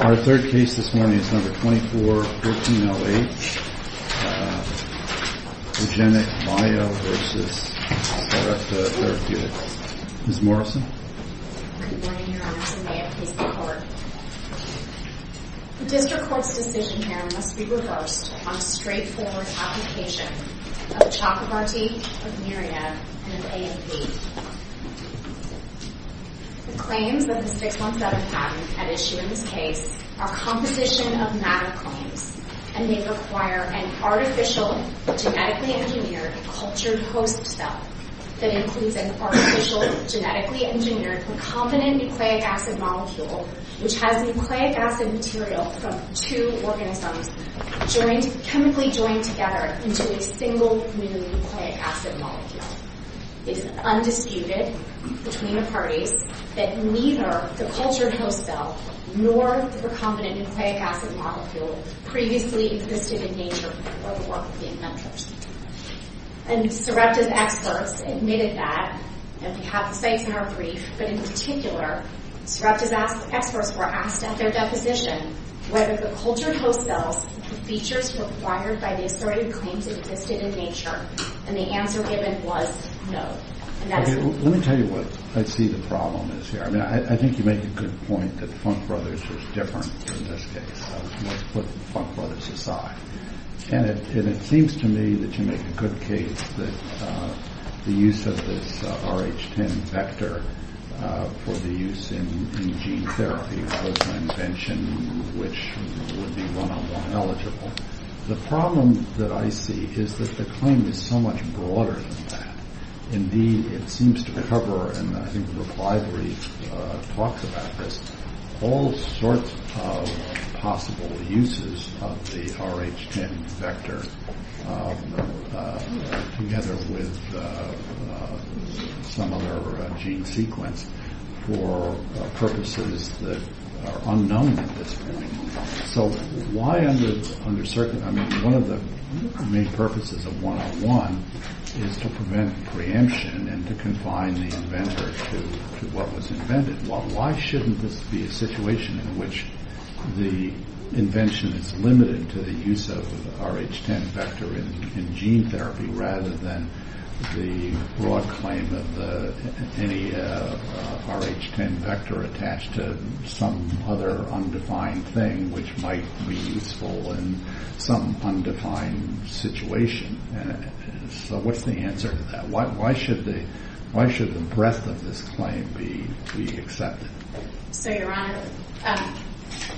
Our third case this morning is number 2414-08, REGENXBIO v. Sarepta Therapeutics. Ms. Morrison? Good morning, Your Honors, and may it please the Court. The District Court's decision here must be reversed on a straightforward application of Chakrabarty, of Myriad, and of A&P. The claims that the 617 patent had issued in this case are composition of matter claims, and they require an artificial, genetically engineered, cultured host cell that includes an artificial, genetically engineered, recombinant nucleic acid molecule, which has nucleic acid material from two organisms chemically joined together into a single new nucleic acid molecule. It is undisputed between the parties that neither the cultured host cell nor the recombinant nucleic acid molecule previously existed in nature were the work of the inventors. And Sarepta's experts admitted that, and we have the sites in our brief, but in particular, Sarepta's experts were asked at their deposition whether the cultured host cells, the features required by the asserted claims existed in nature. And the answer given was no. Let me tell you what I see the problem is here. I mean, I think you make a good point that Funk Brothers was different in this case. Let's put Funk Brothers aside. And it seems to me that you make a good case that the use of this Rh10 vector for the use in gene therapy was an invention which would be one-on-one eligible. The problem that I see is that the claim is so much broader than that. Indeed, it seems to cover, and I think the library talks about this, all sorts of possible uses of the Rh10 vector together with some other gene sequence for purposes that are unknown at this point. So why under certain, I mean, one of the main purposes of one-on-one is to prevent preemption and to confine the inventor to what was invented. Why shouldn't this be a situation in which the invention is limited to the use of the Rh10 vector in gene therapy rather than the broad claim of any Rh10 vector attached to some other undefined thing which might be useful in some undefined situation? So what's the answer to that? Why should the breadth of this claim be accepted? So, Your Honor,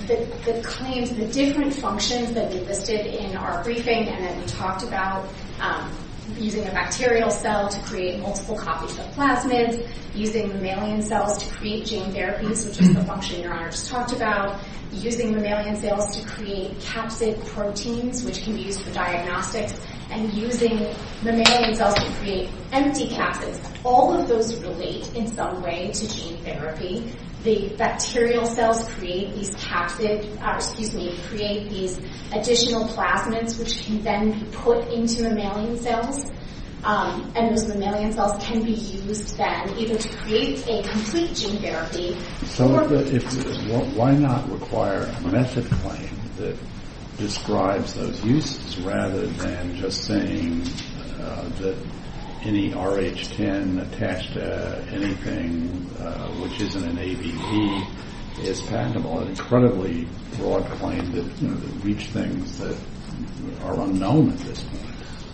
the claims, the different functions that we listed in our briefing and that we talked about, using a bacterial cell to create multiple copies of plasmids, using mammalian cells to create gene therapies, which is the function Your Honor just talked about, using mammalian cells to create capsid proteins, which can be used for diagnostics, and using mammalian cells to create empty capsids. All of those relate in some way to gene therapy. The bacterial cells create these capsid, or excuse me, create these additional plasmids, which can then be put into mammalian cells, and those mammalian cells can be used then either to create a complete gene therapy So why not require a method claim that describes those uses rather than just saying that any Rh10 attached to anything which isn't an AVP is patentable? An incredibly broad claim that would reach things that are unknown at this point.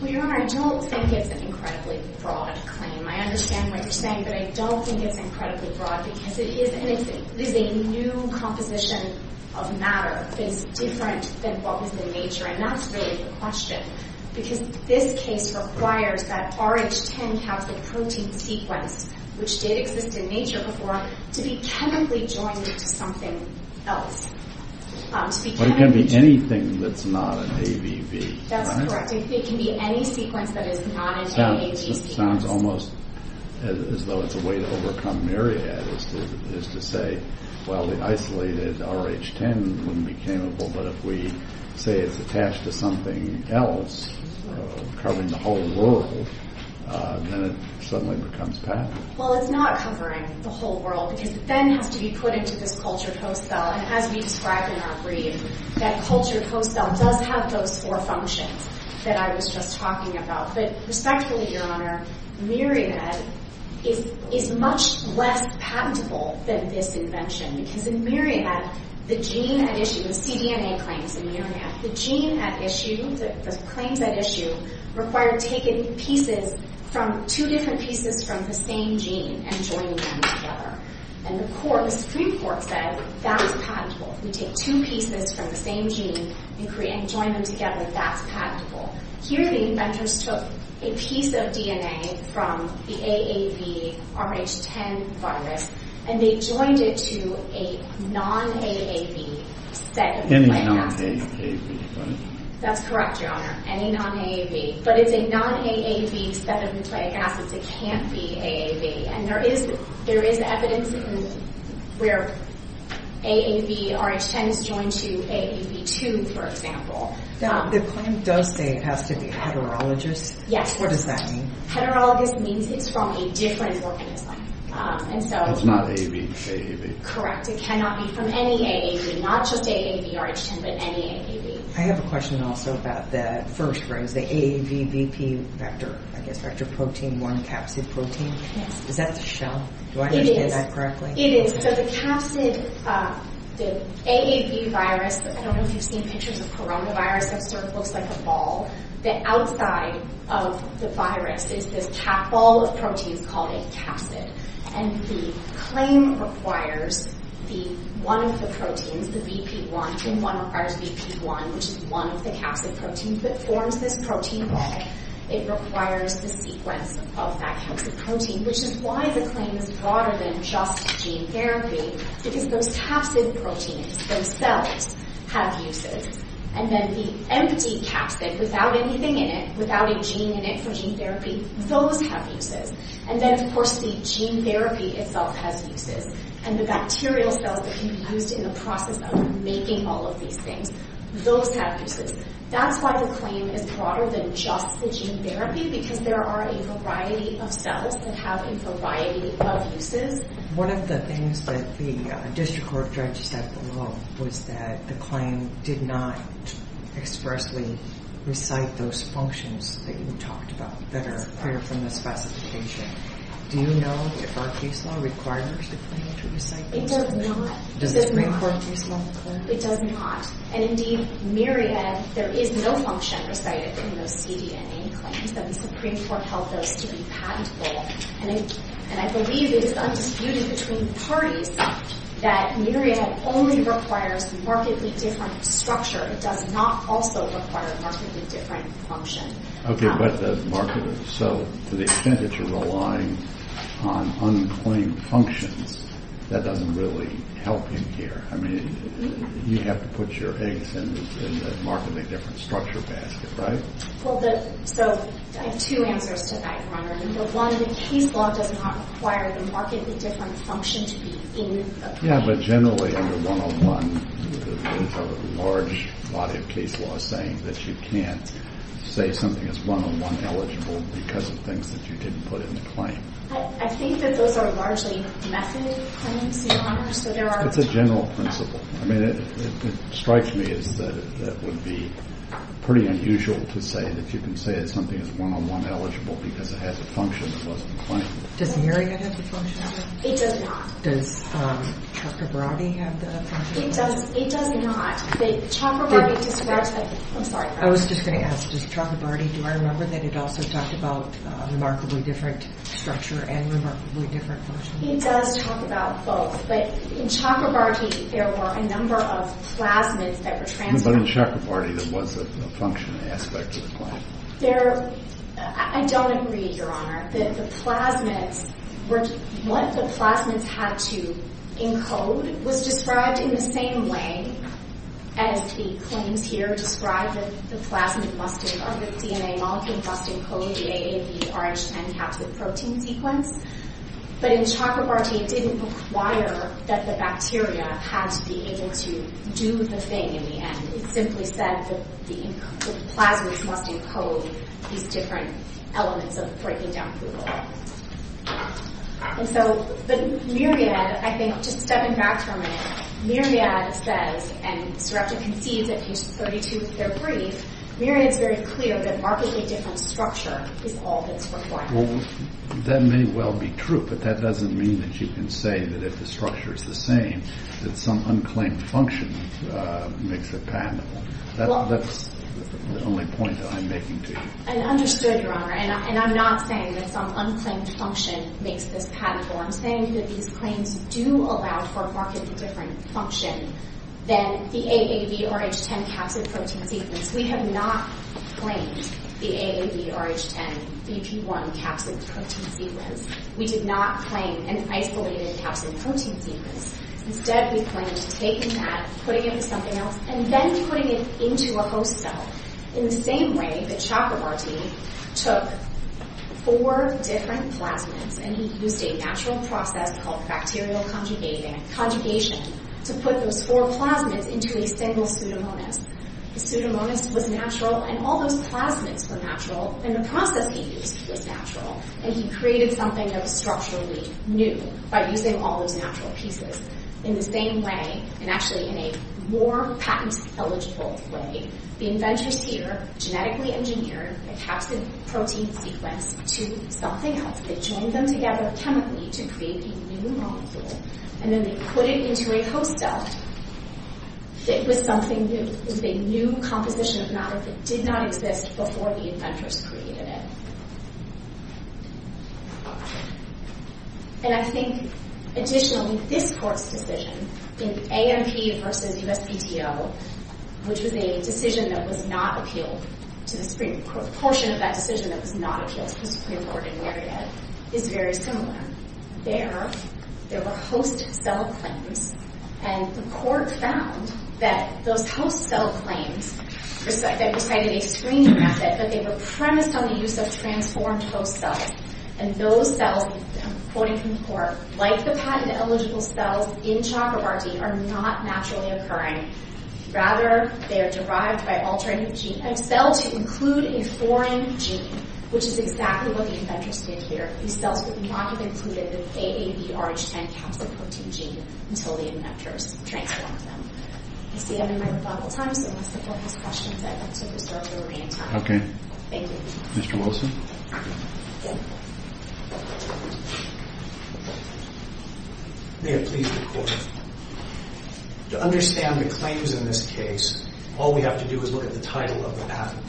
Well, Your Honor, I don't think it's an incredibly broad claim. I understand what you're saying, but I don't think it's incredibly broad, because it is a new composition of matter that's different than what was in nature, and that's really the question. Because this case requires that Rh10 capsid protein sequence, which did exist in nature before, to be chemically joined to something else. But it can be anything that's not an AVP. That's correct. It can be any sequence that is not an AVP. It sounds almost as though it's a way to overcome myriad, is to say, well, the isolated Rh10 wouldn't be capable, but if we say it's attached to something else, covering the whole world, then it suddenly becomes patentable. Well, it's not covering the whole world, because it then has to be put into this cultured host cell, and as we describe in our brief, that cultured host cell does have those four functions that I was just talking about. But respectfully, Your Honor, myriad is much less patentable than this invention, because in myriad, the gene at issue, the cDNA claims in myriad, the gene at issue, the claims at issue, required taking pieces from, two different pieces from the same gene and joining them together. And the Supreme Court said that was patentable. If we take two pieces from the same gene and join them together, that's patentable. Here, the inventors took a piece of DNA from the AAV Rh10 virus, and they joined it to a non-AAV set of plant acids. Any non-AAV plant? That's correct, Your Honor, any non-AAV. But it's a non-AAV set of nucleic acids. It can't be AAV. And there is evidence where AAV Rh10 is joined to AAV2, for example. Now, the claim does say it has to be heterologous. Yes. What does that mean? Heterologous means it's from a different organism. It's not AAV. Correct. It cannot be from any AAV, not just AAV Rh10, but any AAV. I have a question also about that first phrase, the AAVVP vector, I guess, vector protein, one capsid protein. Yes. Is that the shell? Do I understand that correctly? It is. It is. So the capsid, the AAV virus, I don't know if you've seen pictures of coronavirus. It sort of looks like a ball. The outside of the virus is this ball of proteins called a capsid. And the claim requires one of the proteins, the VP1, and one requires VP1, which is one of the capsid proteins, that forms this protein ball. It requires the sequence of that capsid protein, which is why the claim is broader than just gene therapy, because those capsid proteins, those cells, have uses. And then the empty capsid, without anything in it, without a gene in it for gene therapy, those have uses. And then, of course, the gene therapy itself has uses. And the bacterial cells that can be used in the process of making all of these things, those have uses. That's why the claim is broader than just the gene therapy, because there are a variety of cells that have a variety of uses. One of the things that the district court judge said below was that the claim did not expressly recite those functions that you talked about that are clear from the specification. Do you know if our case law requires the claim to recite those functions? It does not. Does the Supreme Court case law require it? It does not. And, indeed, myriad, there is no function recited in those CDNA claims. The Supreme Court held those to be patentable. And I believe it is undisputed between parties that myriad only requires markedly different structure. It does not also require markedly different function. Okay, but the marketing, so to the extent that you're relying on unclaimed functions, that doesn't really help in here. I mean, you have to put your eggs in the markedly different structure basket, right? Well, so I have two answers to that, Your Honor. One, the case law does not require the markedly different function to be in the claim. Yeah, but generally under 101, there's a large body of case law saying that you can't say something is 101 eligible because of things that you didn't put in the claim. I think that those are largely method claims, Your Honor. It's a general principle. I mean, it strikes me as that would be pretty unusual to say that you can say that something is 101 eligible because it has a function that wasn't in the claim. Does myriad have the function? It does not. Does Chakrabarti have the function? It does not. Chakrabarti describes it. I'm sorry. I was just going to ask, does Chakrabarti, do I remember that it also talked about remarkably different structure and remarkably different function? It does talk about both. But in Chakrabarti, there were a number of plasmids that were transferred. But in Chakrabarti, there was a function aspect to the claim. I don't agree, Your Honor. The plasmids, what the plasmids had to encode was described in the same way as the claims here describe the plasmid must encode, or the DNA molecule must encode the AAVRH10 capsid protein sequence. But in Chakrabarti, it didn't require that the bacteria had to be able to do the thing in the end. It simply said that the plasmids must encode these different elements of breaking down glucose. And so the myriad, I think, just stepping back for a minute, myriad says, and Srebnick concedes at page 32 of their brief, myriad is very clear that remarkably different structure is all that's required. Well, that may well be true, but that doesn't mean that you can say that if the structure is the same, that some unclaimed function makes it patentable. That's the only point that I'm making to you. And understood, Your Honor. And I'm not saying that some unclaimed function makes this patentable. I'm saying that these claims do allow for a markedly different function than the AAVRH10 capsid protein sequence. We have not claimed the AAVRH10BP1 capsid protein sequence. We did not claim an isolated capsid protein sequence. Instead, we claimed taking that, putting it in something else, and then putting it into a host cell. In the same way that Chakrabarti took four different plasmids and he used a natural process called bacterial conjugation to put those four plasmids into a single pseudomonas. The pseudomonas was natural, and all those plasmids were natural, and the process he used was natural. And he created something that was structurally new by using all those natural pieces. In the same way, and actually in a more patent-eligible way, the inventors here genetically engineered a capsid protein sequence to something else. They chained them together chemically to create a new molecule, and then they put it into a host cell. It was something that was a new composition of monomer that did not exist before the inventors created it. And I think, additionally, this Court's decision in AMP versus USPDO, which was a decision that was not appealed to the Supreme Court, a portion of that decision that was not appealed to the Supreme Court in Marriott, is very similar. There, there were host cell claims, and the Court found that those host cell claims recited a screening method, but they were premised on the use of transformed host cells. And those cells, I'm quoting from the Court, like the patent-eligible cells in Chakrabarti are not naturally occurring. Rather, they are derived by altering a gene, a cell to include a foreign gene, which is exactly what the inventors did here. These cells would not have included the AABRH10 capsoprotein gene until the inventors transformed them. I see I'm in my rebuttal time, so unless the Court has questions, I'd like to restart the reading time. Thank you. Mr. Wilson? May it please the Court. To understand the claims in this case, all we have to do is look at the title of the patent.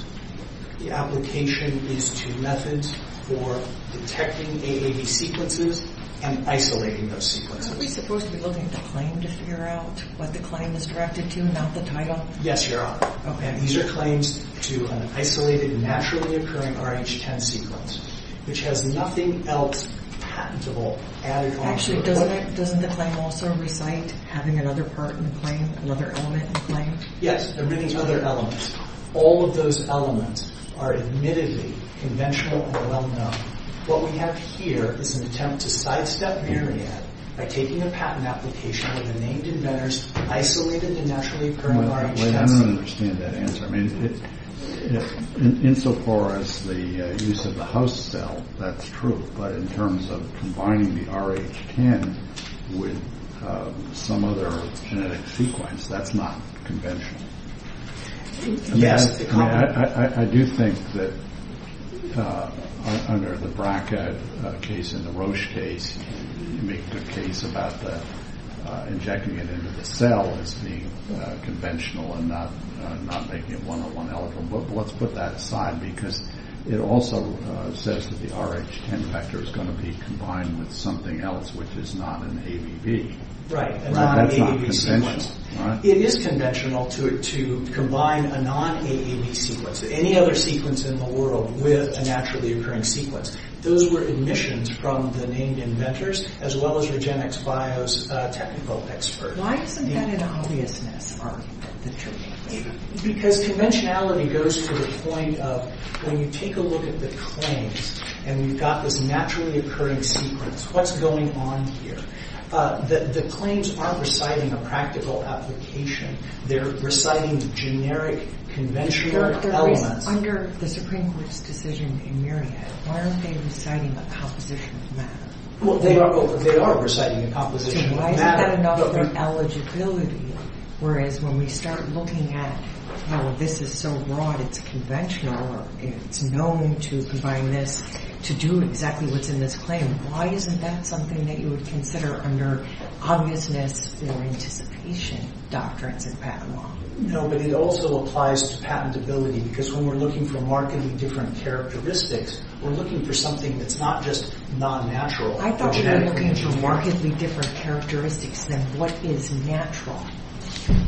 The application of these two methods for detecting AAB sequences and isolating those sequences. Aren't we supposed to be looking at the claim to figure out what the claim is directed to and not the title? Yes, you are. Okay. And these are claims to an isolated, naturally occurring RH10 sequence, which has nothing else patentable added onto the claim. Actually, doesn't the claim also recite having another part in the claim, another element in the claim? Yes, and reading other elements. All of those elements are admittedly conventional and well-known. What we have here is an attempt to sidestep Myriad by taking a patent application with the named inventors isolated and naturally occurring RH10 sequences. I don't understand that answer. I mean, insofar as the use of the host cell, that's true. But in terms of combining the RH10 with some other genetic sequence, that's not conventional. Yes. I do think that under the Brackett case and the Roche case, you make the case about injecting it into the cell as being conventional and not making it one or one element. But let's put that aside because it also says that the RH10 vector is going to be combined with something else which is not an AAB. Right. That's not conventional. It is conventional to combine a non-AAB sequence, any other sequence in the world, with a naturally occurring sequence. Those were admissions from the named inventors as well as Regenexx Bio's technical experts. Why isn't that an obviousness? Because conventionality goes to the point of when you take a look at the claims and you've got this naturally occurring sequence, what's going on here? The claims aren't reciting a practical application. They're reciting generic conventional elements. Under the Supreme Court's decision in Myriad, aren't they reciting a composition of matter? Well, they are reciting a composition of matter. Why isn't that enough for eligibility? Whereas when we start looking at how this is so broad, it's conventional, it's known to combine this, to do exactly what's in this claim, why isn't that something that you would consider under obviousness or anticipation doctrines in patent law? No, but it also applies to patentability because when we're looking for markedly different characteristics, we're looking for something that's not just non-natural. I thought you were looking for markedly different characteristics than what is natural,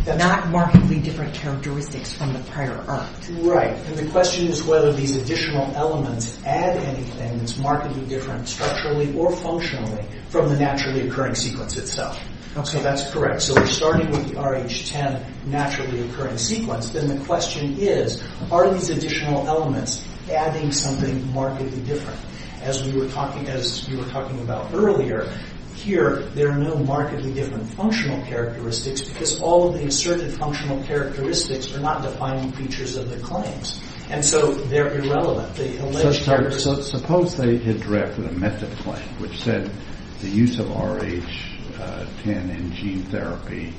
not markedly different characteristics from the prior art. Right, and the question is whether these additional elements add anything that's markedly different structurally or functionally from the naturally occurring sequence itself. So that's correct. So we're starting with the RH10 naturally occurring sequence. Then the question is, are these additional elements adding something markedly different? As you were talking about earlier, here there are no markedly different functional characteristics because all of the asserted functional characteristics are not defining features of the claims. And so they're irrelevant. Suppose they had drafted a method claim which said the use of RH10 in gene therapy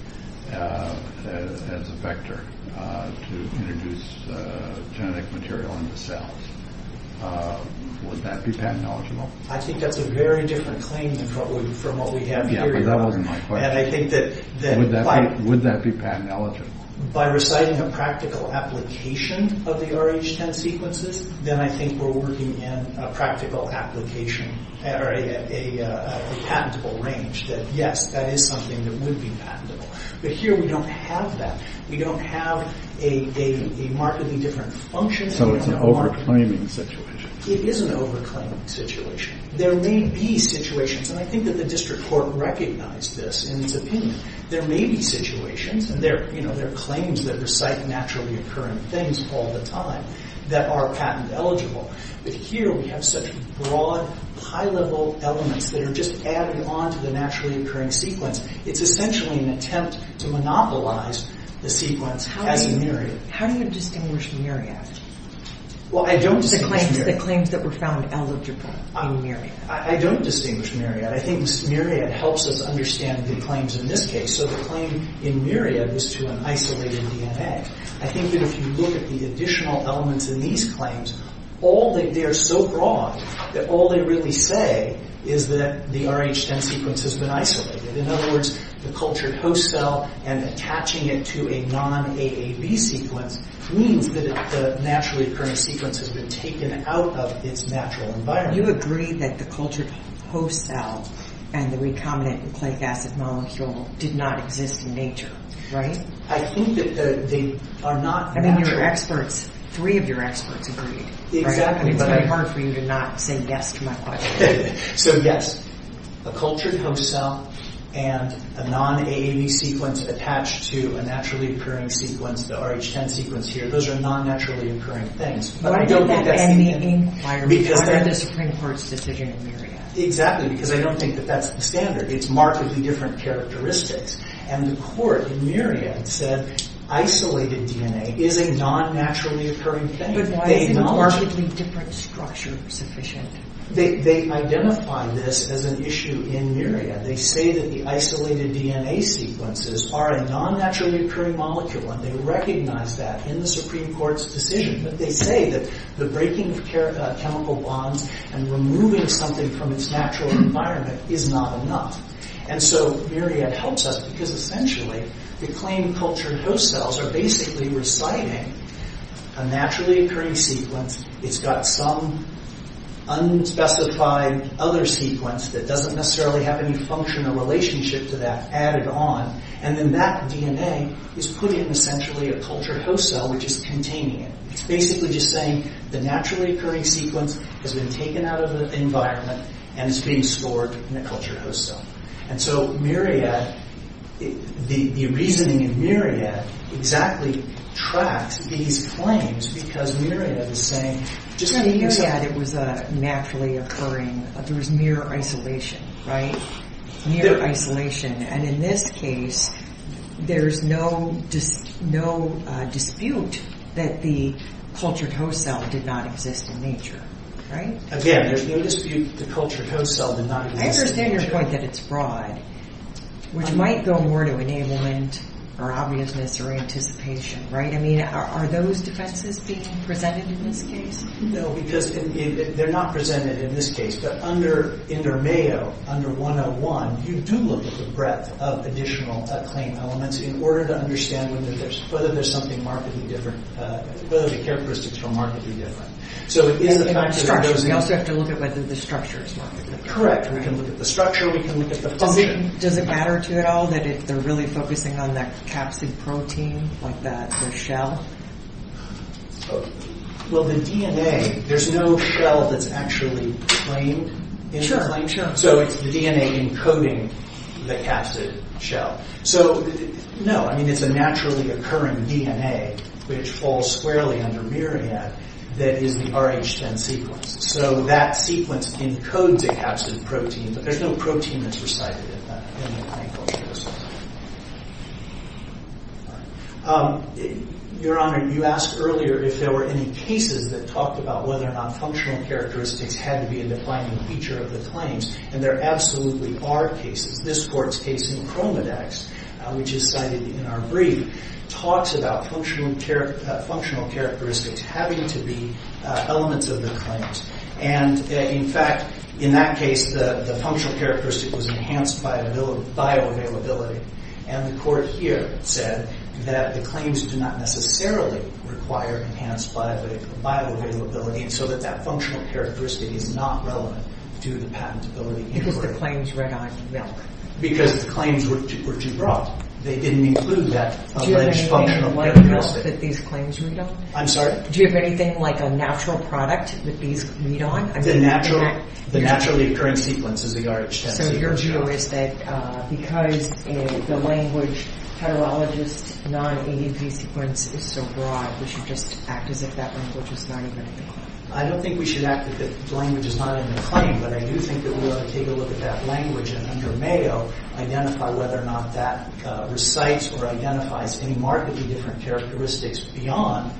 as a vector to introduce genetic material into cells. Would that be patent eligible? I think that's a very different claim from what we have here. Yeah, but that wasn't my question. Would that be patent eligible? By reciting a practical application of the RH10 sequences, then I think we're working in a practical application, or a patentable range, that yes, that is something that would be patentable. But here we don't have that. We don't have a markedly different function. So it's an over-claiming situation. It is an over-claiming situation. There may be situations, and I think that the district court recognized this in its opinion, there may be situations, and there are claims that recite naturally occurring things all the time, that are patent eligible. But here we have such broad, high-level elements that are just added on to the naturally occurring sequence. It's essentially an attempt to monopolize the sequence as a myriad. How do you distinguish myriad? Well, I don't distinguish myriad. The claims that were found eligible in myriad. I don't distinguish myriad. I think myriad helps us understand the claims in this case. So the claim in myriad was to an isolated DNA. I think that if you look at the additional elements in these claims, they are so broad that all they really say is that the Rh10 sequence has been isolated. In other words, the cultured host cell and attaching it to a non-AAB sequence means that the naturally occurring sequence has been taken out of its natural environment. You agree that the cultured host cell and the recombinant and clade acid molecule did not exist in nature, right? I think that they are not natural. I mean, your experts, three of your experts agreed, right? Exactly. I mean, it's very hard for you to not say yes to my question. So yes, a cultured host cell and a non-AAB sequence attached to a naturally occurring sequence, the Rh10 sequence here, those are non-naturally occurring things. But I don't get that same thing. Why did that end the inquiry? Why not the Supreme Court's decision in myriad? Exactly, because I don't think that that's the standard. It's markedly different characteristics. And the court in myriad said isolated DNA is a non-naturally occurring thing. But why is a markedly different structure sufficient? They identify this as an issue in myriad. They say that the isolated DNA sequences are a non-naturally occurring molecule. And they recognize that in the Supreme Court's decision. But they say that the breaking of chemical bonds and removing something from its natural environment is not enough. And so myriad helps us because, essentially, the claimed cultured host cells are basically reciting a naturally occurring sequence. It's got some unspecified other sequence that doesn't necessarily have any functional relationship to that added on. And then that DNA is put in, essentially, a cultured host cell, which is containing it. It's basically just saying the naturally occurring sequence has been taken out of the environment and is being stored in a cultured host cell. And so myriad, the reasoning in myriad exactly tracks these claims because myriad is saying, just because it was naturally occurring, there was mere isolation, right? Mere isolation. And in this case, there's no dispute that the cultured host cell did not exist in nature, right? Again, there's no dispute that the cultured host cell did not exist in nature. I understand your point that it's broad, which might go more to enablement or obviousness or anticipation, right? I mean, are those defenses being presented in this case? No, because they're not presented in this case. But under Intermeo, under 101, you do look at the breadth of additional claim elements in order to understand whether there's something markedly different, whether the characteristics are markedly different. We also have to look at whether the structure is markedly We can look at the structure. We can look at the function. Does it matter to you at all that they're really focusing on that capsid protein, like the shell? Well, the DNA, there's no shell that's actually claimed. Sure, sure. So it's the DNA encoding the capsid shell. So no, I mean, it's a naturally occurring DNA, which falls squarely under Myriad, that is the Rh10 sequence. So that sequence encodes a capsid protein, but there's no protein that's recited in that. Your Honor, you asked earlier if there were any cases that talked about whether or not functional characteristics had to be a defining feature of the claims. And there absolutely are cases. This court's case in Chromadex, which is cited in our brief, talks about functional characteristics having to be elements of the claims. And in fact, in that case, the functional characteristic was enhanced by bioavailability. And the court here said that the claims do not necessarily require enhanced bioavailability, so that that functional characteristic is not relevant to the patentability inquiry. Because the claims ran on milk. Because the claims were too broad. They didn't include that alleged functional characteristic. Do you have anything like milk that these claims read on? I'm sorry? Do you have anything like a natural product that these read on? The naturally occurring sequence is the Rh10 sequence. So your view is that because the language, heterologous non-ADP sequence is so broad, we should just act as if that language is not even in the claim. I don't think we should act as if the language is not in the claim, but I do think that we ought to take a look at that language and under Mayo, identify whether or not that recites or identifies any markedly different characteristics beyond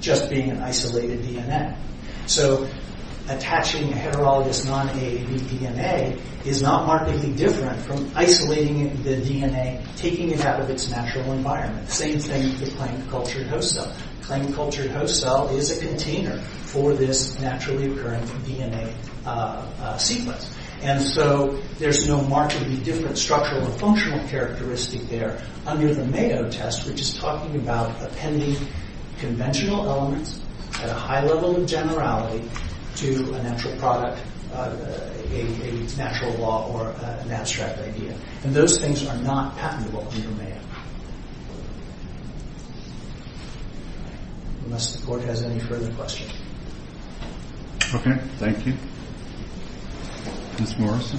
just being an isolated DNA. So attaching a heterologous non-ADP DNA is not markedly different from isolating the DNA, taking it out of its natural environment. Same thing with the claimed cultured host cell. Claimed cultured host cell is a container for this naturally occurring DNA sequence. And so there's no markedly different structural or functional characteristic there under the Mayo test, which is talking about appending conventional elements at a high level of generality to a natural product, a natural law, or an abstract idea. And those things are not patentable under Mayo. Unless the Court has any further questions. OK. Thank you. Ms. Morrison.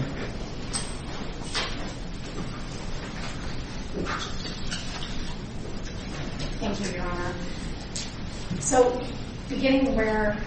Thank you, Your Honor. So beginning where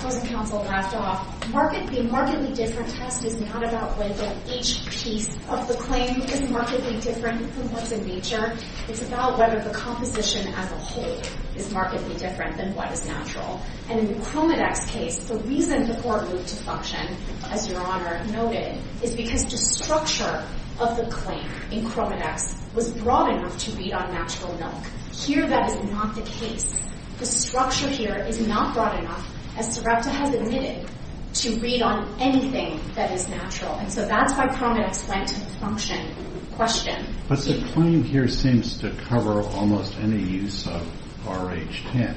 closing counsel left off, the markedly different test is not about whether each piece of the claim is markedly different from what's in nature. It's about whether the composition as a whole is markedly different than what is natural. And in the Chromidex case, the reason the Court moved to function, as Your Honor noted, is because the structure of the claim in Chromidex was broad enough to read on natural milk. Here, that is not the case. The structure here is not broad enough, as Sarepta has admitted, to read on anything that is natural. And so that's why Chromidex went to function. But the claim here seems to cover almost any use of Rh10,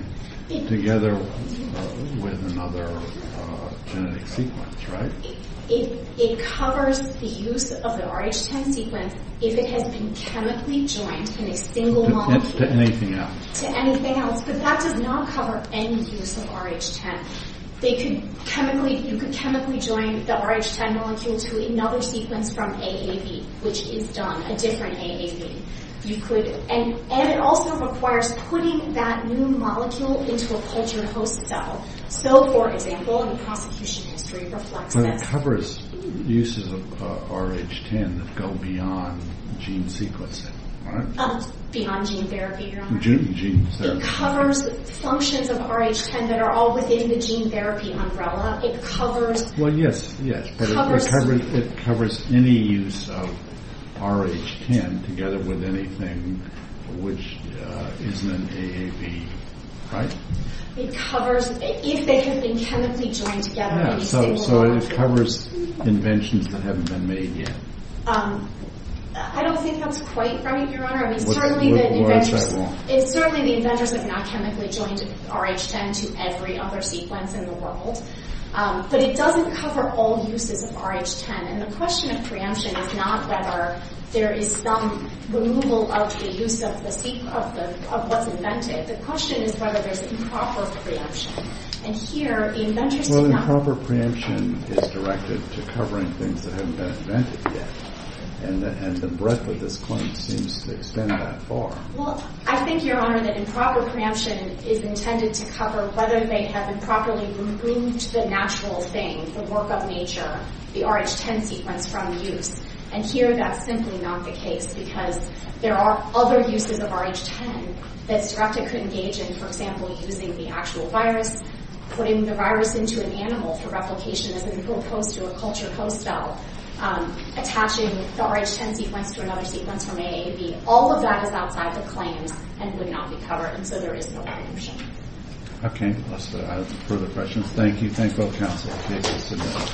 together with another genetic sequence, right? It covers the use of the Rh10 sequence if it has been chemically joined in a single molecule. To anything else. To anything else. But that does not cover any use of Rh10. You could chemically join the Rh10 molecule to another sequence from AAV, which is done, a different AAV. And it also requires putting that new molecule into a cultured host cell. So, for example, the prosecution history reflects this. But it covers uses of Rh10 that go beyond gene sequencing, right? Beyond gene therapy, Your Honor. Gene therapy. It covers functions of Rh10 that are all within the gene therapy umbrella. It covers... Well, yes, yes. It covers any use of Rh10 together with anything which isn't an AAV, right? It covers... If they have been chemically joined together in a single molecule. So it covers inventions that haven't been made yet. I don't think that's quite right, Your Honor. I mean, certainly the inventors... Well, it's that long. Certainly the inventors have not chemically joined Rh10 to every other sequence in the world. But it doesn't cover all uses of Rh10. And the question of preemption is not whether there is some removal of the use of what's invented. The question is whether there's improper preemption. And here, the inventors do not... Well, improper preemption is directed to covering things that haven't been invented yet. And the breadth of this claim seems to extend that far. Well, I think, Your Honor, that improper preemption is intended to cover whether they have improperly removed the natural thing, the work of nature, the Rh10 sequence from use. And here, that's simply not the case, because there are other uses of Rh10 that's directed to engage in, for example, using the actual virus, putting the virus into an animal for replication as opposed to a cultured host cell, attaching the Rh10 sequence to another sequence from AAV. All of that is outside the claims and would not be covered. And so there is no preemption. Okay, unless there are further questions. Thank you. Thanks for the counsel.